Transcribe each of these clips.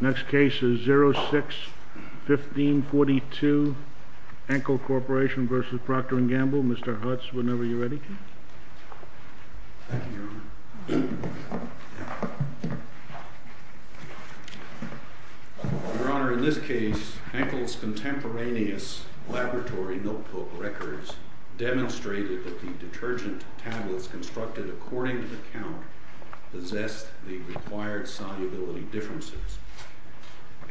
Next case is 06-1542, Enkel Corporation v. Procter & Gamble. Mr. Hutz, whenever you're ready. Your Honor, in this case, Enkel's contemporaneous laboratory notebook records demonstrated that the detergent tablets constructed according to the count possessed the required solubility differences.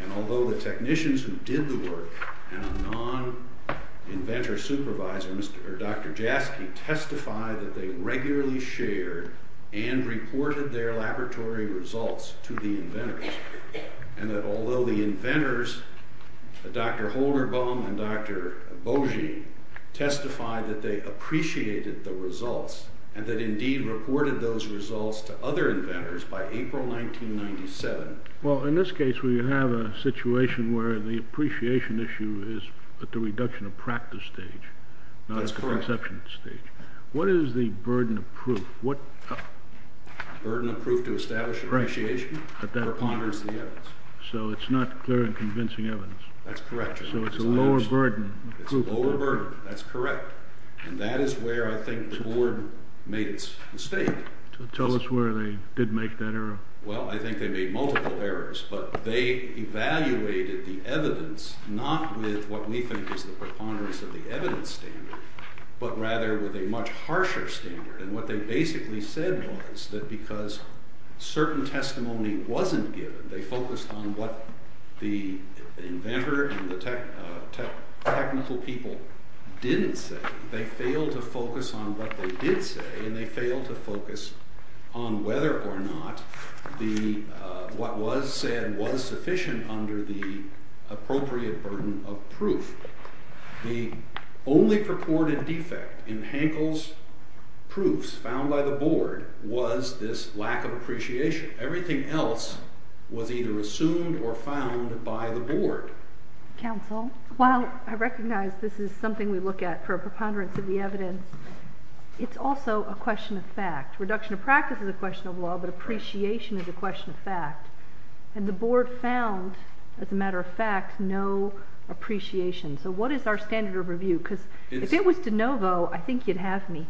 And although the technicians who did the work and a non-inventor supervisor, Dr. Jaski, testified that they regularly shared and reported their laboratory results to the inventors, and that although the inventors, Dr. Holderbaum and Dr. And that indeed reported those results to other inventors by April 1997. Well, in this case, we have a situation where the appreciation issue is at the reduction of practice stage, not at the conception stage. That's correct. What is the burden of proof? Burden of proof to establish appreciation or ponder the evidence. So it's not clear and convincing evidence. That's correct, Your Honor. So it's a lower burden of proof. It's a lower burden. That's correct. And that is where I think the board made its mistake. Tell us where they did make that error. Well, I think they made multiple errors. But they evaluated the evidence not with what we think is the preponderance of the evidence standard, but rather with a much harsher standard. And what they basically said was that because certain testimony wasn't given, they focused on what the inventor and the technical people didn't say. They failed to focus on what they did say, and they failed to focus on whether or not what was said was sufficient under the appropriate burden of proof. The only purported defect in Hankel's proofs found by the board was this lack of appreciation. Everything else was either assumed or found by the board. Counsel? While I recognize this is something we look at for a preponderance of the evidence, it's also a question of fact. Reduction of practice is a question of law, but appreciation is a question of fact. And the board found, as a matter of fact, no appreciation. So what is our standard of review? Because if it was de novo, I think you'd have me.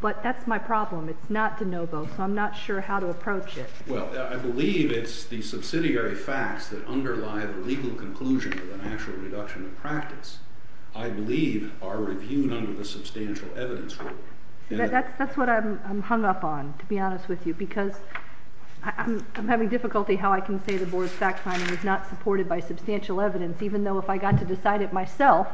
But that's my problem. It's not de novo, so I'm not sure how to approach it. Well, I believe it's the subsidiary facts that underlie the legal conclusion of an actual reduction of practice, I believe, are reviewed under the substantial evidence rule. That's what I'm hung up on, to be honest with you, because I'm having difficulty how I can say the board's fact-finding is not supported by substantial evidence, even though if I got to decide it myself,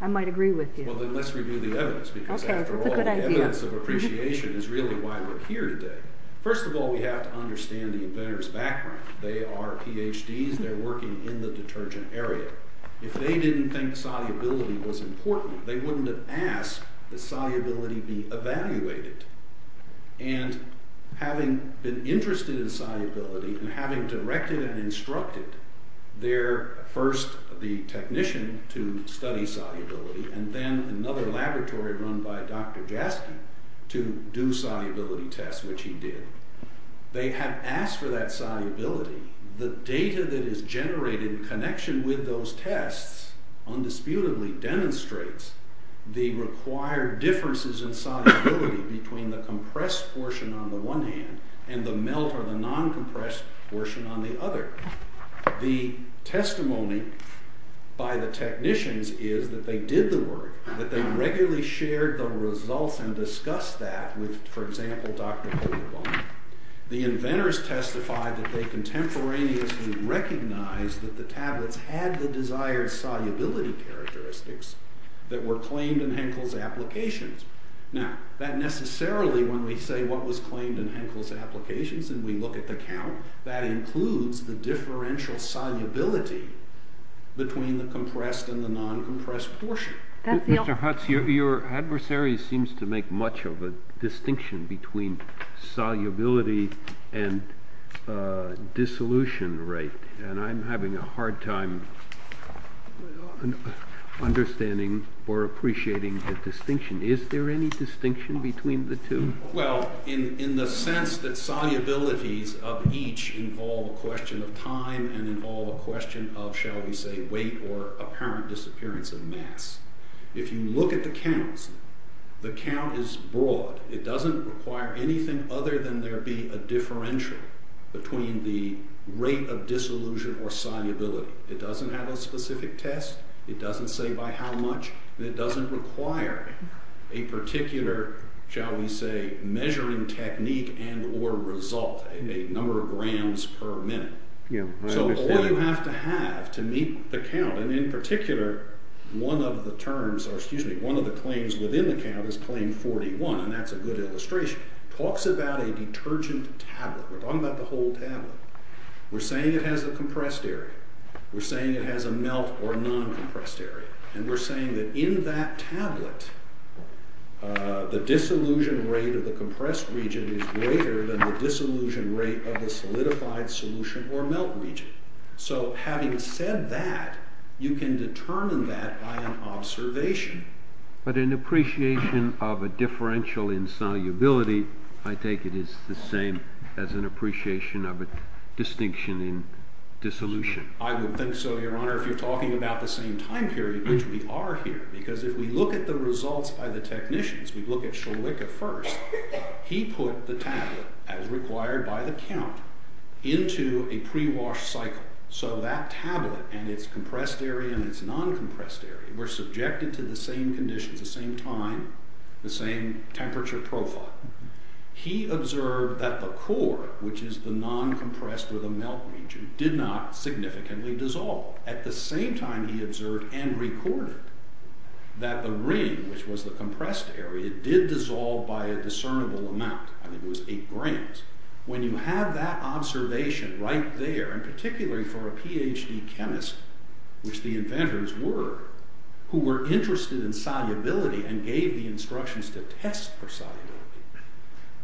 I might agree with you. Well, then let's review the evidence, because after all, the evidence of appreciation is really why we're here today. First of all, we have to understand the inventor's background. They are PhDs. They're working in the detergent area. If they didn't think solubility was important, they wouldn't have asked that solubility be evaluated. And having been interested in solubility and having directed and instructed their first technician to study solubility and then another laboratory run by Dr. Jaskin to do solubility tests, which he did, they have asked for that solubility. The data that is generated in connection with those tests undisputedly demonstrates the required differences in solubility between the compressed portion on the one hand and the melt or the non-compressed portion on the other. The testimony by the technicians is that they did the work, that they regularly shared the results and discussed that with, for example, Dr. Holuboff. The inventors testified that they contemporaneously recognized that the tablets had the desired solubility characteristics that were claimed in Henkel's applications. Now, that necessarily, when we say what was claimed in Henkel's applications and we look at the count, that includes the differential solubility between the compressed and the non-compressed portion. Mr. Hutz, your adversary seems to make much of a distinction between solubility and dissolution rate, and I'm having a hard time understanding or appreciating the distinction. Is there any distinction between the two? Well, in the sense that solubilities of each involve a question of time and involve a question of, shall we say, weight or apparent disappearance of mass. If you look at the counts, the count is broad. It doesn't require anything other than there be a differential between the rate of dissolution or solubility. It doesn't have a specific test. It doesn't say by how much, and it doesn't require a particular, shall we say, measuring technique and or result, a number of grams per minute. So all you have to have to meet the count, and in particular, one of the claims within the count is claim 41, and that's a good illustration. It talks about a detergent tablet. We're talking about the whole tablet. We're saying it has a compressed area. We're saying it has a melt or non-compressed area. And we're saying that in that tablet, the dissolution rate of the compressed region is greater than the dissolution rate of the solidified solution or melt region. So having said that, you can determine that by an observation. But an appreciation of a differential in solubility, I take it, is the same as an appreciation of a distinction in dissolution. I would think so, Your Honor, if you're talking about the same time period, which we are here. Because if we look at the results by the technicians, we look at Schulich at first. He put the tablet, as required by the count, into a pre-wash cycle. So that tablet and its compressed area and its non-compressed area were subjected to the same conditions, the same time, the same temperature profile. He observed that the core, which is the non-compressed or the melt region, did not significantly dissolve. At the same time, he observed and recorded that the ring, which was the compressed area, did dissolve by a discernible amount. I think it was 8 grams. When you have that observation right there, and particularly for a Ph.D. chemist, which the inventors were, who were interested in solubility and gave the instructions to test for solubility,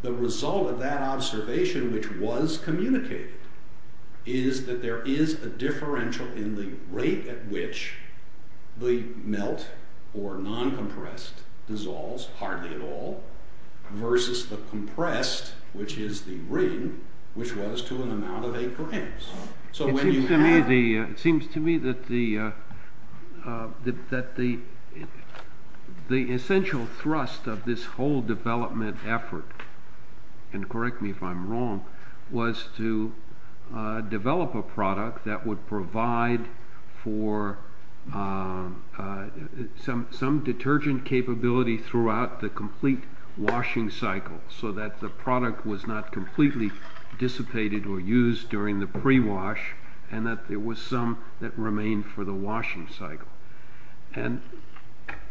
the result of that observation, which was communicated, is that there is a differential in the rate at which the melt or non-compressed dissolves, hardly at all, versus the compressed, which is the ring, which was to an amount of 8 grams. It seems to me that the essential thrust of this whole development effort, and correct me if I'm wrong, was to develop a product that would provide for some detergent capability throughout the complete washing cycle, so that the product was not completely dissipated or used during the pre-wash, and that there was some that remained for the washing cycle.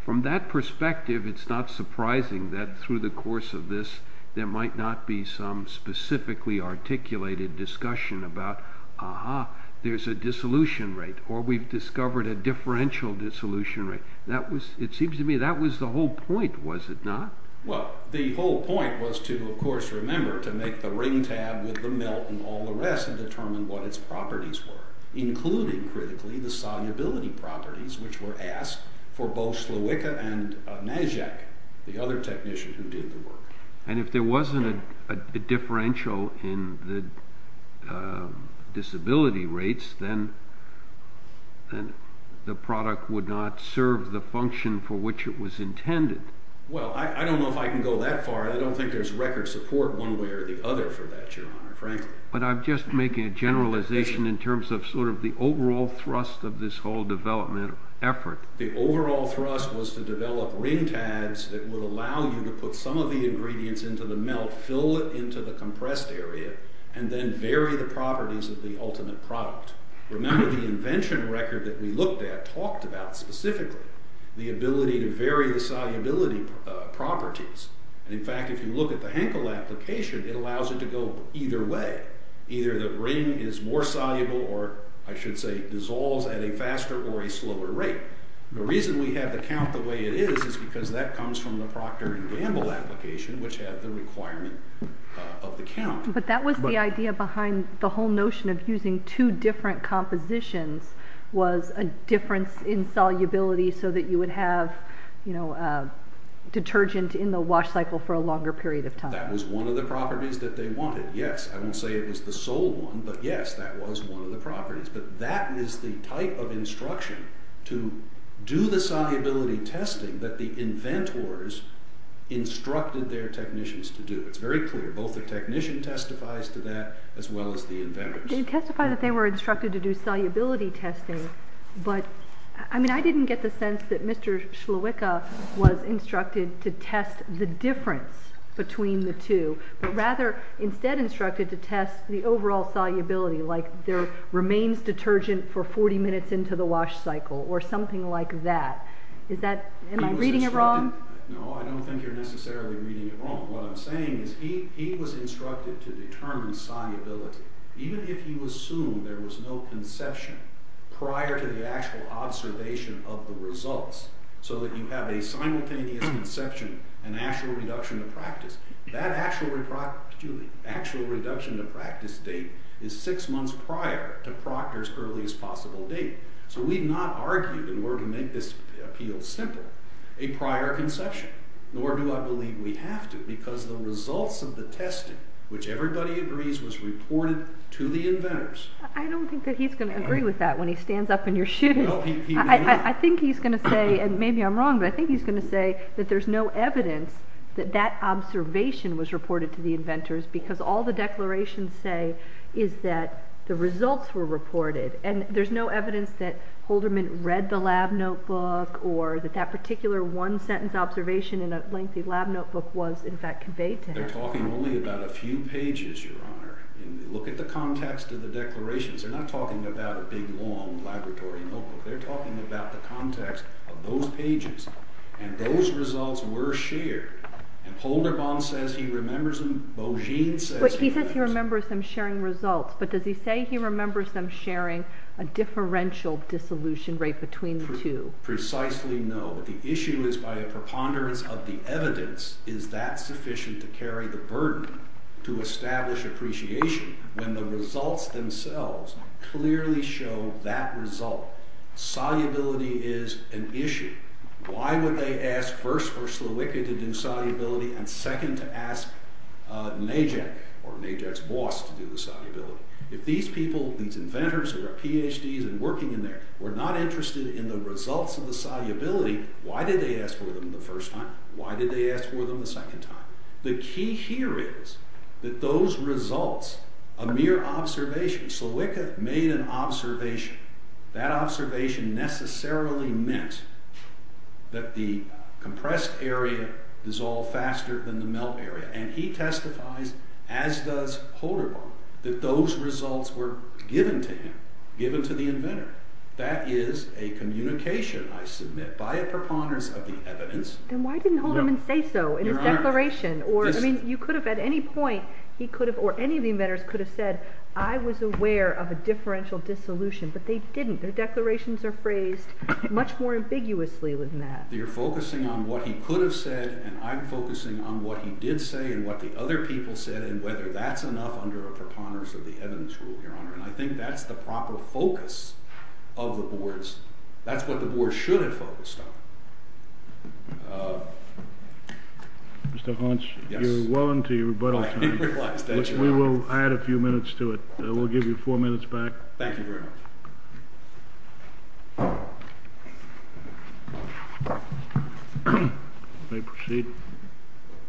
From that perspective, it's not surprising that through the course of this, there might not be some specifically articulated discussion about, ah-ha, there's a dissolution rate, or we've discovered a differential dissolution rate. It seems to me that was the whole point, was it not? Well, the whole point was to, of course, remember to make the ring tab with the melt and all the rest, and determine what its properties were, including, critically, the solubility properties, which were asked for both Slowicka and Majek, the other technician who did the work. And if there wasn't a differential in the disability rates, then the product would not serve the function for which it was intended. Well, I don't know if I can go that far. I don't think there's record support one way or the other for that, Your Honor, frankly. But I'm just making a generalization in terms of sort of the overall thrust of this whole development effort. The overall thrust was to develop ring tabs that would allow you to put some of the ingredients into the melt, fill it into the compressed area, and then vary the properties of the ultimate product. Remember the invention record that we looked at talked about specifically the ability to vary the solubility properties. In fact, if you look at the Henkel application, it allows it to go either way. Either the ring is more soluble or, I should say, dissolves at a faster or a slower rate. The reason we have the count the way it is is because that comes from the Proctor and Gamble application, which had the requirement of the count. But that was the idea behind the whole notion of using two different compositions was a difference in solubility so that you would have, you know, detergent in the wash cycle for a longer period of time. That was one of the properties that they wanted. Yes, I won't say it was the sole one, but yes, that was one of the properties. But that is the type of instruction to do the solubility testing that the inventors instructed their technicians to do. It's very clear. Both the technician testifies to that as well as the inventors. You did testify that they were instructed to do solubility testing, but, I mean, I didn't get the sense that Mr. Shlawicka was instructed to test the difference between the two, but rather instead instructed to test the overall solubility, like there remains detergent for 40 minutes into the wash cycle or something like that. Is that, am I reading it wrong? No, I don't think you're necessarily reading it wrong. What I'm saying is he was instructed to determine solubility. Even if you assume there was no conception prior to the actual observation of the results so that you have a simultaneous conception and actual reduction to practice, that actual reduction to practice date is six months prior to Proctor's earliest possible date. So we've not argued in order to make this appeal simple a prior conception, nor do I believe we have to because the results of the testing, which everybody agrees was reported to the inventors. I don't think that he's going to agree with that when he stands up in your shoes. I think he's going to say, and maybe I'm wrong, but I think he's going to say that there's no evidence that that observation was reported to the inventors because all the declarations say is that the results were reported and there's no evidence that Holderman read the lab notebook or that that particular one-sentence observation in a lengthy lab notebook was, in fact, conveyed to him. They're talking only about a few pages, Your Honor. And look at the context of the declarations. They're not talking about a big, long laboratory notebook. They're talking about the context of those pages. And those results were shared. And Holderman says he remembers them. Bogine says he remembers them. But he says he remembers them sharing results. But does he say he remembers them sharing a differential dissolution rate between the two? Precisely no. The issue is by a preponderance of the evidence, is that sufficient to carry the burden to establish appreciation when the results themselves clearly show that result? Solubility is an issue. Why would they ask first for Slowicki to do solubility and second to ask Najek or Najek's boss to do the solubility? If these people, these inventors who are PhDs and working in there, were not interested in the results of the solubility, why did they ask for them the first time? Why did they ask for them the second time? The key here is that those results, a mere observation, Slowicki made an observation. That observation necessarily meant that the compressed area dissolved faster than the melt area. And he testifies, as does Holderman, that those results were given to him, given to the inventor. That is a communication, I submit, by a preponderance of the evidence. Then why didn't Holderman say so in his declaration? You could have, at any point, or any of the inventors could have said, I was aware of a differential dissolution, but they didn't. Their declarations are phrased much more ambiguously than that. You're focusing on what he could have said and I'm focusing on what he did say and what the other people said and whether that's enough under a preponderance of the evidence rule. I think that's the proper focus of the boards. That's what the boards should have focused on. Mr. Hauntz, you're well into your rebuttal time. We will add a few minutes to it. We'll give you four minutes back. Thank you very much. You may proceed.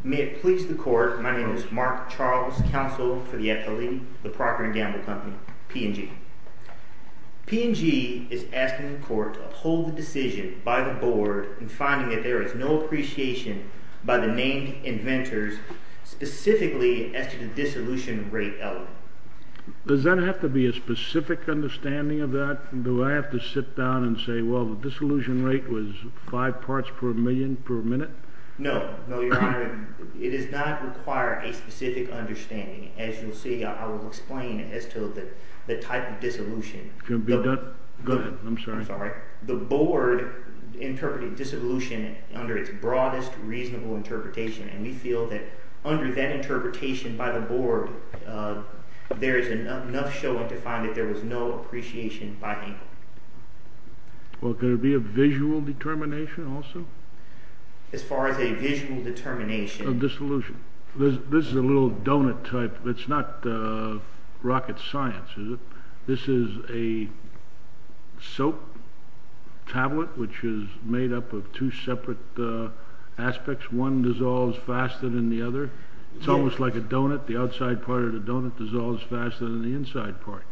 May it please the court, my name is Mark Charles, counsel for the FLE, the Parker & Gamble Company, P&G. P&G is asking the court to uphold the decision by the board in finding that there is no appreciation by the named inventors specifically as to the dissolution rate element. Does that have to be a specific understanding of that? Do I have to sit down and say, well, the dissolution rate was five parts per million per minute? No. No, Your Honor. It does not require a specific understanding. As you'll see, I will explain as to the type of dissolution. Go ahead. I'm sorry. I'm sorry. The board interpreted dissolution under its broadest reasonable interpretation. And we feel that under that interpretation by the board, there is enough showing to find that there was no appreciation by anyone. Well, could it be a visual determination also? As far as a visual determination. A dissolution. This is a little donut type. It's not rocket science, is it? This is a soap tablet which is made up of two separate aspects. One dissolves faster than the other. It's almost like a donut. The outside part of the donut dissolves faster than the inside part.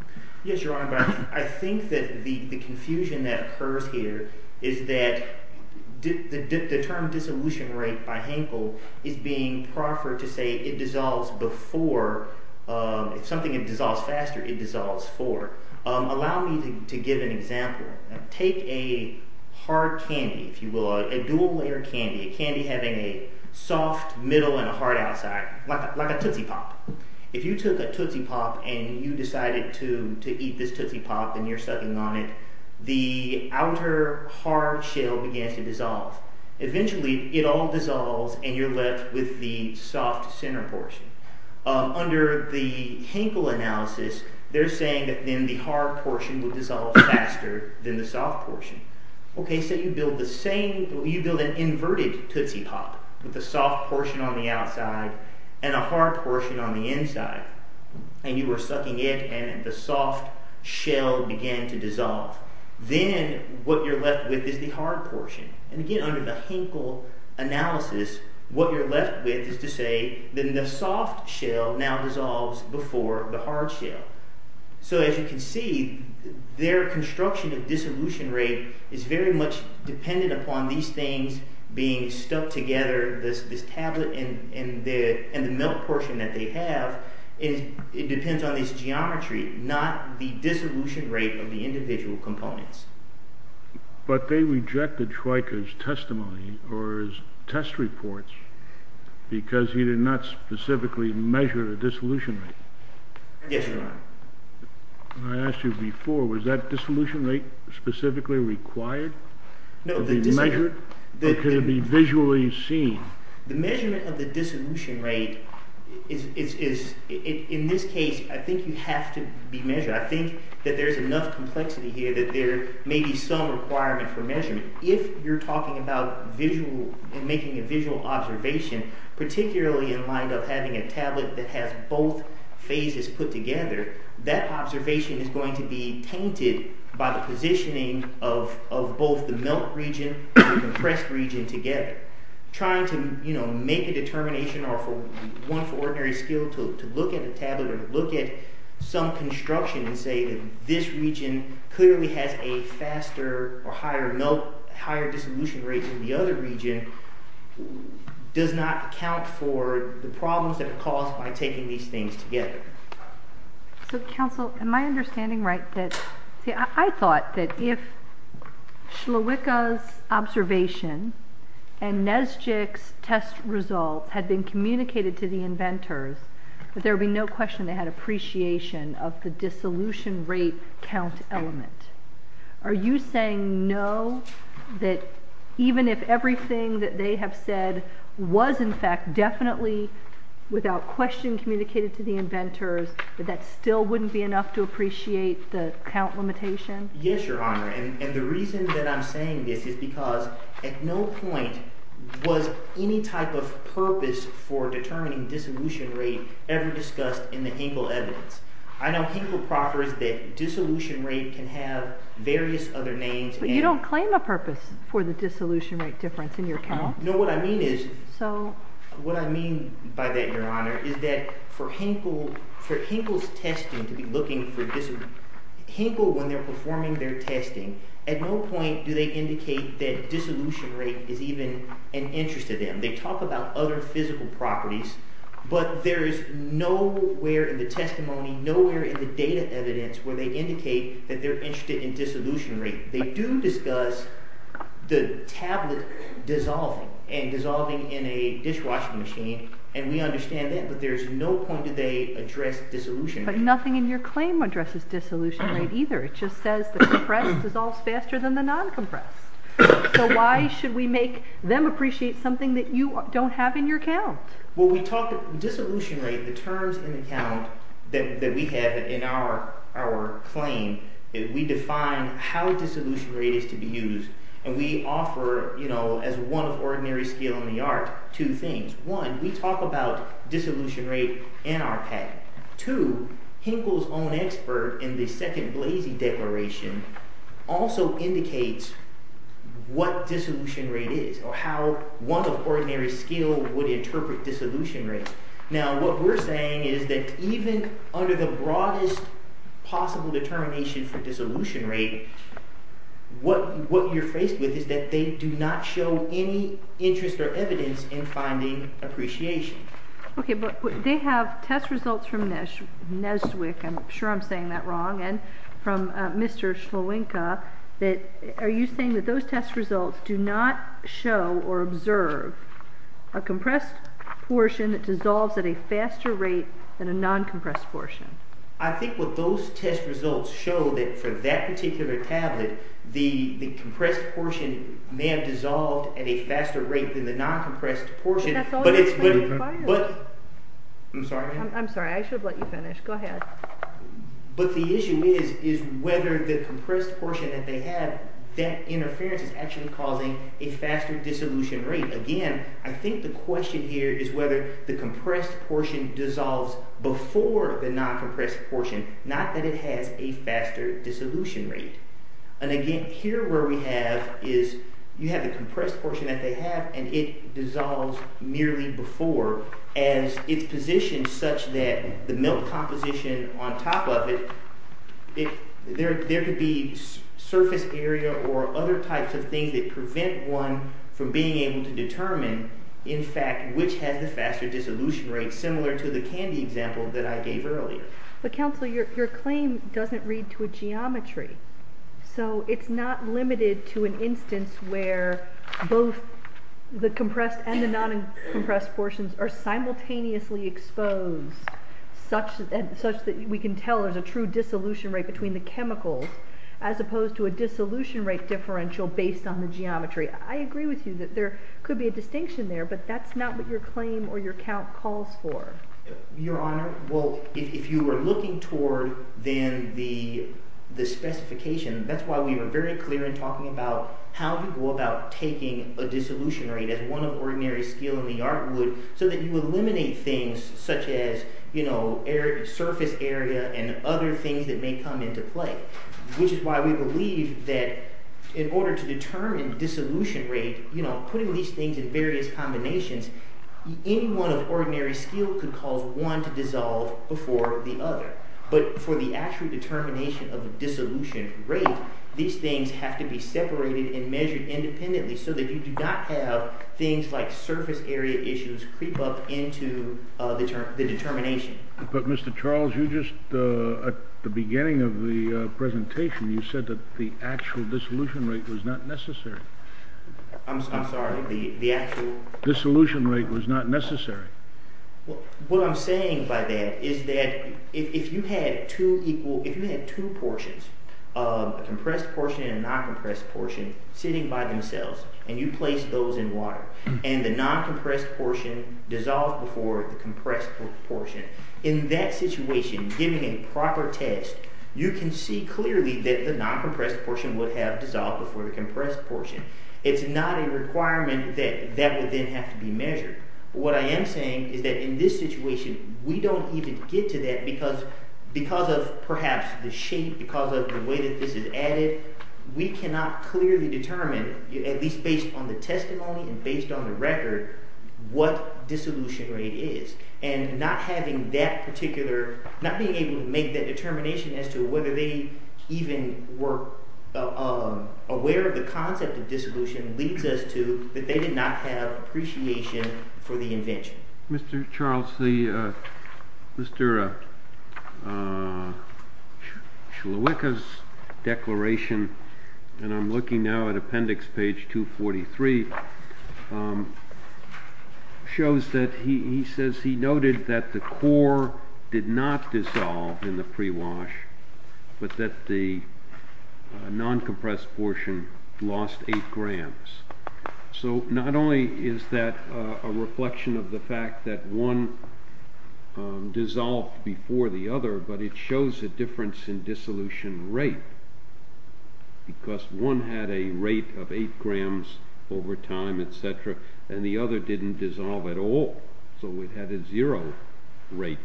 Yes, Your Honor, but I think that the confusion that occurs here is that the term dissolution rate by Hankel is being proffered to say it dissolves before. If something dissolves faster, it dissolves before. Allow me to give an example. Take a hard candy, if you will, a dual-layer candy, a candy having a soft middle and a hard outside, like a Tootsie Pop. If you took a Tootsie Pop and you decided to eat this Tootsie Pop and you're sucking on it, the outer hard shell begins to dissolve. Eventually, it all dissolves and you're left with the soft center portion. Under the Hankel analysis, they're saying that then the hard portion would dissolve faster than the soft portion. Okay, so you build an inverted Tootsie Pop with a soft portion on the outside and a hard portion on the inside. And you were sucking it and the soft shell began to dissolve. Then what you're left with is the hard portion. And again, under the Hankel analysis, what you're left with is to say that the soft shell now dissolves before the hard shell. So as you can see, their construction of dissolution rate is very much dependent upon these things being stuck together, this tablet and the milk portion that they have. It depends on this geometry, not the dissolution rate of the individual components. But they rejected Schweiker's testimony or his test reports because he did not specifically measure the dissolution rate. Yes, Your Honor. I asked you before, was that dissolution rate specifically required to be measured? Or could it be visually seen? The measurement of the dissolution rate is, in this case, I think you have to be measured. I think that there's enough complexity here that there may be some requirement for measurement. If you're talking about making a visual observation, particularly in light of having a tablet that has both phases put together, that observation is going to be tainted by the positioning of both the milk region and the compressed region together. Trying to make a determination or for one's ordinary skill to look at a tablet or to look at some construction and say that this region clearly has a faster or higher dissolution rate than the other region does not account for the problems that are caused by taking these things together. So, counsel, am I understanding right? I thought that if Schlewicker's observation and Nesjik's test results had been communicated to the inventors, that there would be no question they had appreciation of the dissolution rate count element. Are you saying no? That even if everything that they have said was in fact definitely without question communicated to the inventors, that that still wouldn't be enough to appreciate the count limitation? Yes, Your Honor. And the reason that I'm saying this is because at no point was any type of purpose for determining dissolution rate ever discussed in the Hinkle evidence. I know Hinkle proffers that dissolution rate can have various other names. But you don't claim a purpose for the dissolution rate difference in your count? No, what I mean is, what I mean by that, Your Honor, is that for Hinkle's testing, to be looking for dissolution, Hinkle, when they're performing their testing, at no point do they indicate that dissolution rate is even an interest to them. They talk about other physical properties, but there is nowhere in the testimony, nowhere in the data evidence where they indicate that they're interested in dissolution rate. They do discuss the tablet dissolving and dissolving in a dishwashing machine, and we understand that, but there's no point do they address dissolution rate. But nothing in your claim addresses dissolution rate either. It just says the compressed dissolves faster than the non-compressed. So why should we make them appreciate something that you don't have in your count? Well, we talk, dissolution rate, the terms in the count that we have in our claim, we define how dissolution rate is to be used, and we offer, you know, as one of ordinary skill in the art, two things. One, we talk about dissolution rate in our patent. Two, Hinkle's own expert in the second Blasey Declaration also indicates what dissolution rate is or how one of ordinary skill would interpret dissolution rate. Now, what we're saying is that even under the broadest possible determination for dissolution rate, what you're faced with is that they do not show any interest or evidence in finding appreciation. Okay, but they have test results from Neswick, I'm sure I'm saying that wrong, and from Mr. Schloenka that are you saying that those test results do not show or observe a compressed portion that dissolves at a faster rate than a non-compressed portion? I think what those test results show that for that particular tablet, the compressed portion may have dissolved at a faster rate than the non-compressed portion, but the issue is whether the compressed portion that they have, that interference is actually causing a faster dissolution rate. Again, I think the question here is whether the compressed portion dissolves before the non-compressed portion, not that it has a faster dissolution rate. And again, here where we have is you have the compressed portion that they have and it dissolves merely before as it's positioned such that the milk composition on top of it, there could be surface area or other types of things that prevent one from being able to determine, in fact, which has the faster dissolution rate similar to the candy example that I gave earlier. But counsel, your claim doesn't read to a geometry, so it's not limited to an instance where both the compressed and the non-compressed portions are simultaneously exposed such that we can tell there's a true dissolution rate between the chemicals as opposed to a dissolution rate differential based on the geometry. I agree with you that there could be a distinction there, but that's not what your claim or your count calls for. Your Honor, well, if you were looking toward then the specification, that's why we were very clear in talking about how we go about taking a dissolution rate as one of ordinary skill in the art would so that you eliminate things such as, you know, surface area and other things that may come into play, which is why we believe that in order to determine dissolution rate, you know, putting these things in various combinations, any one of ordinary skill could cause one to dissolve before the other. But for the actual determination of the dissolution rate, these things have to be separated and measured independently so that you do not have things like surface area issues creep up into the determination. But Mr. Charles, you just, at the beginning of the presentation, you said that the actual dissolution rate was not necessary. I'm sorry, the actual? Dissolution rate was not necessary. What I'm saying by that is that if you had two equal, if you had two portions, a compressed portion and a non-compressed portion, sitting by themselves, and you placed those in water, and the non-compressed portion dissolved before the compressed portion, in that situation, giving a proper test, you can see clearly that the non-compressed portion would have dissolved before the compressed portion. It's not a requirement that that would then have to be measured. What I am saying is that in this situation, we don't even get to that because of perhaps the shape, because of the way that this is added. We cannot clearly determine, at least based on the testimony and based on the record, what dissolution rate is. And not having that particular, not being able to make that determination as to whether they even were aware of the concept of dissolution leads us to that they did not have appreciation for the invention. Mr. Charles, Mr. Shulawika's declaration, and I'm looking now at appendix page 243, shows that he says he noted that the core did not dissolve in the pre-wash, but that the non-compressed portion lost 8 grams. So not only is that a reflection of the fact that one dissolved before the other, but it shows a difference in dissolution rate, because one had a rate of 8 grams over time, etc., and the other didn't dissolve at all, so it had a zero rate.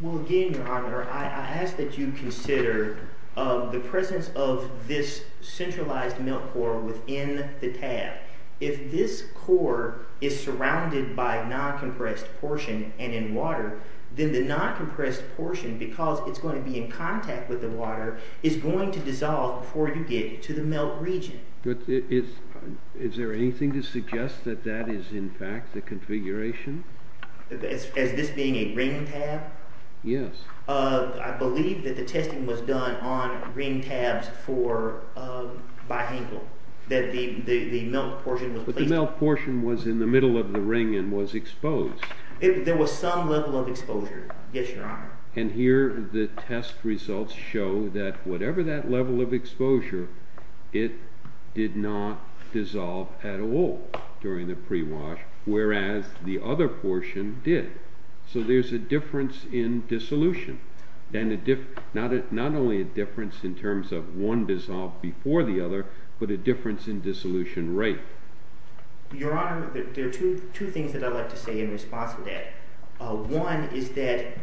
Well, again, Your Honor, I ask that you consider the presence of this centralized melt core within the tab. If this core is surrounded by non-compressed portion and in water, then the non-compressed portion, because it's going to be in contact with the water, is going to dissolve before you get to the melt region. Is there anything to suggest that that is, in fact, the configuration? As this being a ring tab? Yes. I believe that the testing was done on ring tabs for bihangle, that the melt portion was placed... But the melt portion was in the middle of the ring and was exposed. There was some level of exposure, yes, Your Honor. And here the test results show that whatever that level of exposure, it did not dissolve at all during the pre-wash, whereas the other portion did. So there's a difference in dissolution, and not only a difference in terms of one dissolved before the other, but a difference in dissolution rate. Your Honor, there are two things that I'd like to say in response to that. One is that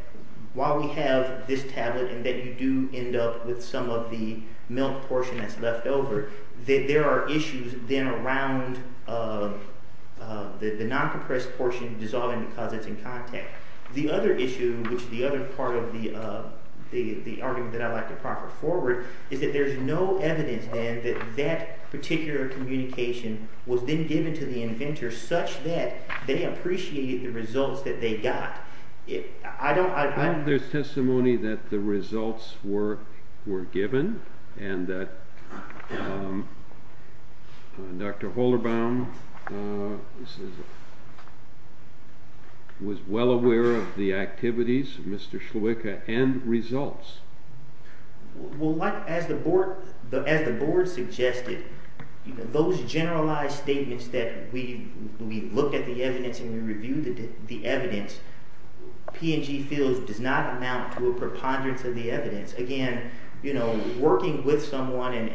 while we have this tablet and that you do end up with some of the melt portion that's left over, there are issues then around the non-compressed portion dissolving because it's in contact. The other issue, which is the other part of the argument that I'd like to proffer forward, is that there's no evidence then that that particular communication was then given to the inventor such that they appreciated the results that they got. I don't... There's testimony that the results were given and that Dr. Holderbaum was well aware of the activities of Mr. Sluika and results. Well, as the board suggested, those generalized statements that we look at the evidence and we review the evidence, P&G fields does not amount to a preponderance of the evidence. Again, working with someone and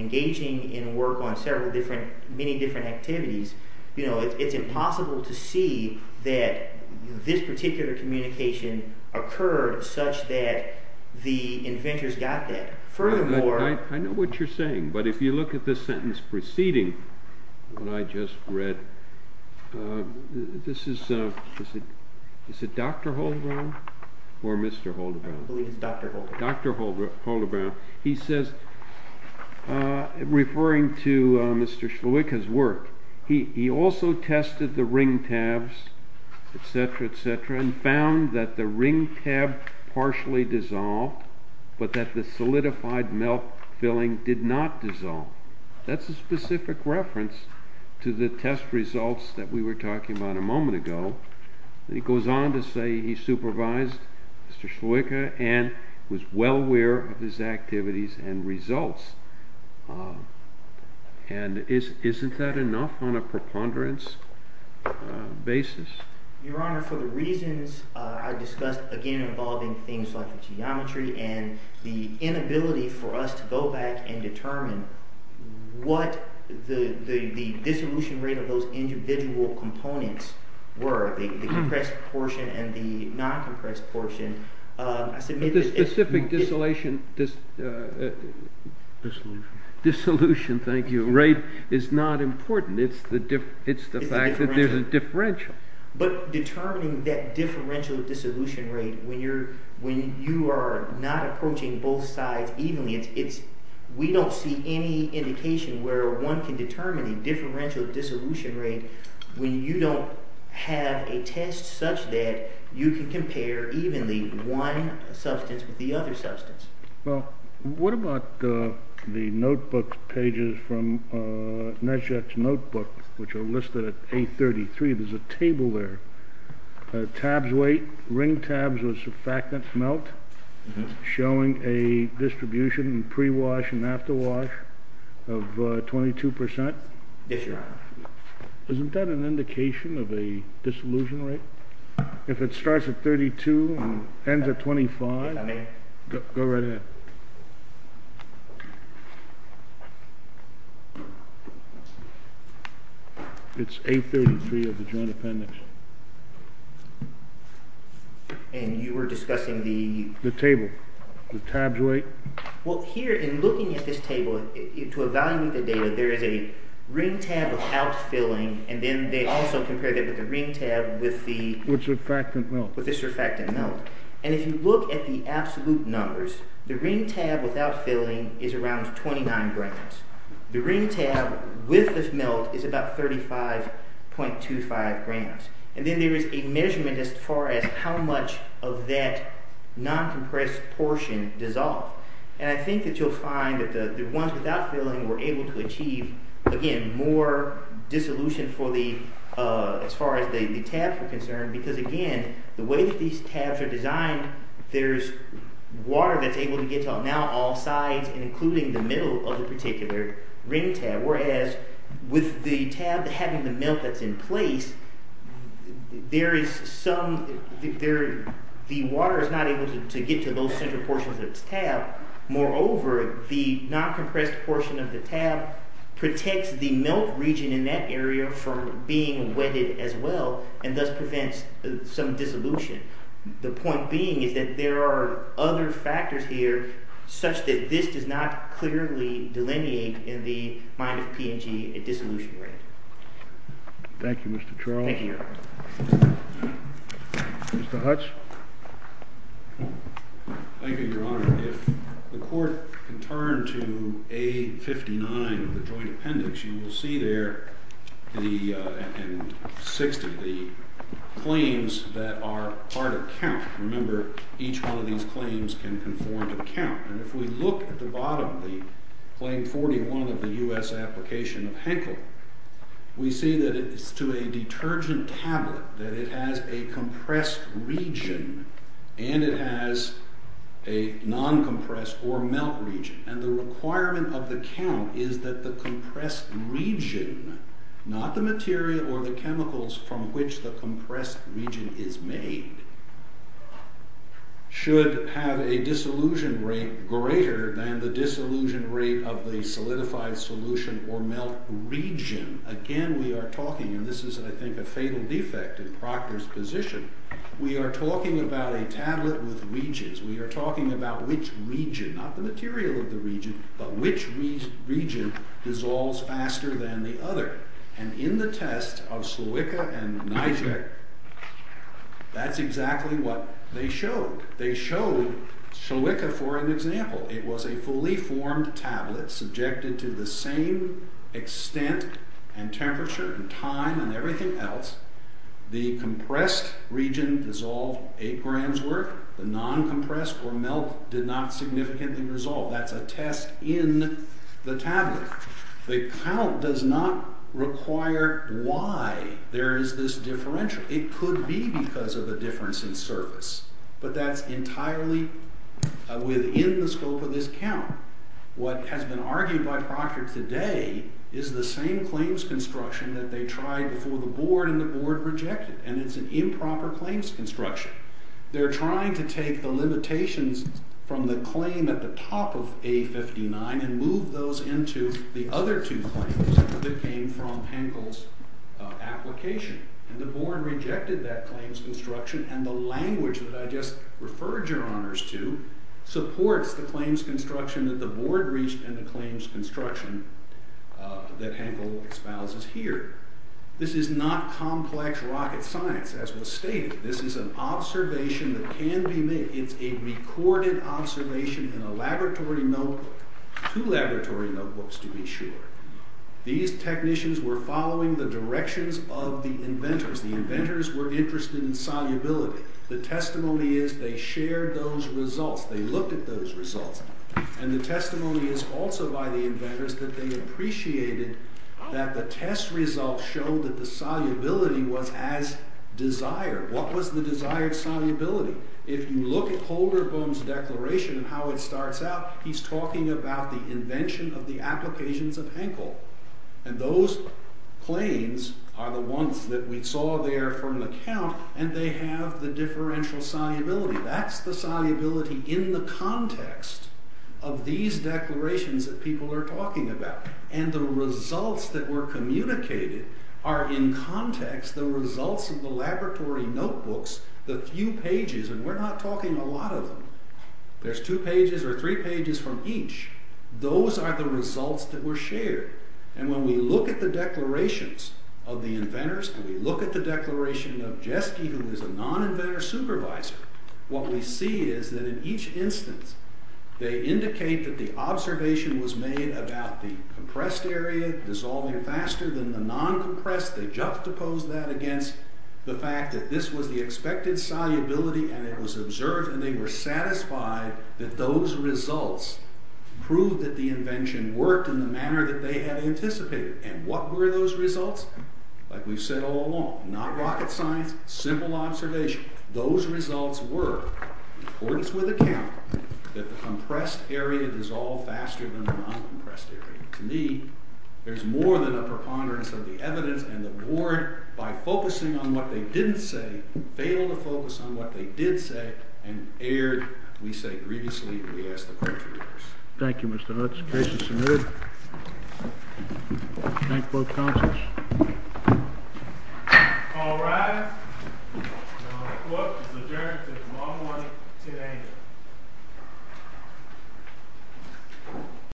engaging in work on several different, many different activities, it's impossible to see that this particular communication occurred such that the inventors got that. Furthermore... I know what you're saying, but if you look at the sentence preceding what I just read, this is... Is it Dr. Holderbaum or Mr. Holderbaum? I believe it's Dr. Holderbaum. Dr. Holderbaum. He says, referring to Mr. Sluika's work, he also tested the ring tabs, etc., etc., and found that the ring tab partially dissolved, but that the solidified milk filling did not dissolve. That's a specific reference to the test results that we were talking about a moment ago. He goes on to say he supervised Mr. Sluika and was well aware of his activities and results. And isn't that enough on a preponderance basis? Your Honor, for the reasons I discussed, again, involving things like the geometry and the inability for us to go back and determine what the dissolution rate of those individual components were, the compressed portion and the non-compressed portion, The specific dissolution rate is not important. It's the fact that there's a differential. But determining that differential dissolution rate when you are not approaching both sides evenly, we don't see any indication where one can determine the differential dissolution rate when you don't have a test such that you can compare evenly one substance with the other substance. Well, what about the notebook pages from Nesjet's notebook, which are listed at 833? There's a table there. Tabs weight, ring tabs with surfactant smelt, showing a distribution in prewash and afterwash of 22%. Yes, Your Honor. Isn't that an indication of a dissolution rate? If it starts at 32 and ends at 25, go right ahead. It's 833 of the joint appendix. And you were discussing the... The table, the tabs weight. Well, here, in looking at this table, to evaluate the data, there is a ring tab without filling, and then they also compared it with the ring tab with the... With surfactant smelt. With the surfactant smelt. And if you look at the absolute numbers, the ring tab without filling is around 29 grams. The ring tab with the smelt is about 35.25 grams. And then there is a measurement as far as how much of that non-compressed portion dissolved. And I think that you'll find that the ones without filling were able to achieve, again, more dissolution for the... As far as the tabs are concerned, because, again, the way that these tabs are designed, there's water that's able to get to now all sides, including the middle of the particular ring tab, whereas with the tab having the smelt that's in place, there is some... The water is not able to get to those central portions of this tab. Moreover, the non-compressed portion of the tab protects the melt region in that area from being wetted as well and thus prevents some dissolution. The point being is that there are other factors here such that this does not clearly delineate in the mind of P&G a dissolution rate. Thank you, Mr. Charles. Thank you. Mr. Hutch? Thank you, Your Honor. If the court can turn to A59, the joint appendix, you will see there the... and 60, the claims that are part of the count. Remember, each one of these claims can conform to the count. And if we look at the bottom, the claim 41 of the U.S. application of Henkel, we see that it's to a detergent tablet, that it has a compressed region and it has a non-compressed or melt region. And the requirement of the count is that the compressed region, not the material or the chemicals from which the compressed region is made, should have a dissolution rate greater than the dissolution rate of the solidified solution or melt region. Again, we are talking, and this is, I think, a fatal defect in Proctor's position, we are talking about a tablet with regions. We are talking about which region, not the material of the region, but which region dissolves faster than the other. And in the test of Slowicka and Nijic, that's exactly what they showed. They showed Slowicka for an example. It was a fully formed tablet subjected to the same extent and temperature and time and everything else. The compressed region dissolved 8 grams worth. The non-compressed or melt did not significantly dissolve. That's a test in the tablet. The count does not require why there is this differential. It could be because of a difference in surface. But that's entirely within the scope of this count. What has been argued by Proctor today is the same claims construction that they tried before the Board and the Board rejected, and it's an improper claims construction. They're trying to take the limitations from the claim at the top of A-59 and move those into the other two claims that came from Henkel's application. And the Board rejected that claims construction and the language that I just referred your honors to supports the claims construction that the Board reached and the claims construction that Henkel espouses here. This is not complex rocket science, as was stated. This is an observation that can be made. It's a recorded observation in a laboratory notebook, two laboratory notebooks to be sure. These technicians were following the directions of the inventors. The inventors were interested in solubility. The testimony is they shared those results. They looked at those results. And the testimony is also by the inventors that they appreciated that the test results showed that the solubility was as desired. What was the desired solubility? If you look at Holderboom's declaration and how it starts out, he's talking about the invention of the applications of Henkel. And those claims are the ones that we saw there from the count, and they have the differential solubility. That's the solubility in the context of these declarations that people are talking about. And the results that were communicated are in context the results of the laboratory notebooks, the few pages, and we're not talking a lot of them. There's two pages or three pages from each. Those are the results that were shared. And when we look at the declarations of the inventors and we look at the declaration of Jeske, who is a non-inventor supervisor, what we see is that in each instance they indicate that the observation was made about the compressed area dissolving faster than the non-compressed. They juxtaposed that against the fact that this was the expected solubility and it was observed and they were satisfied that those results proved that the invention worked in the manner that they had anticipated. And what were those results? Like we've said all along, not rocket science, simple observation. Those results were, in accordance with the count, that the compressed area dissolved faster than the non-compressed area. To me, there's more than a preponderance of the evidence and the board, by focusing on what they didn't say, failed to focus on what they did say and erred, we say grievously, when we ask the court to reverse. Thank you, Mr. Hutz. Case is submitted. Thank both counselors. All rise. The court is adjourned until tomorrow morning at 10 a.m.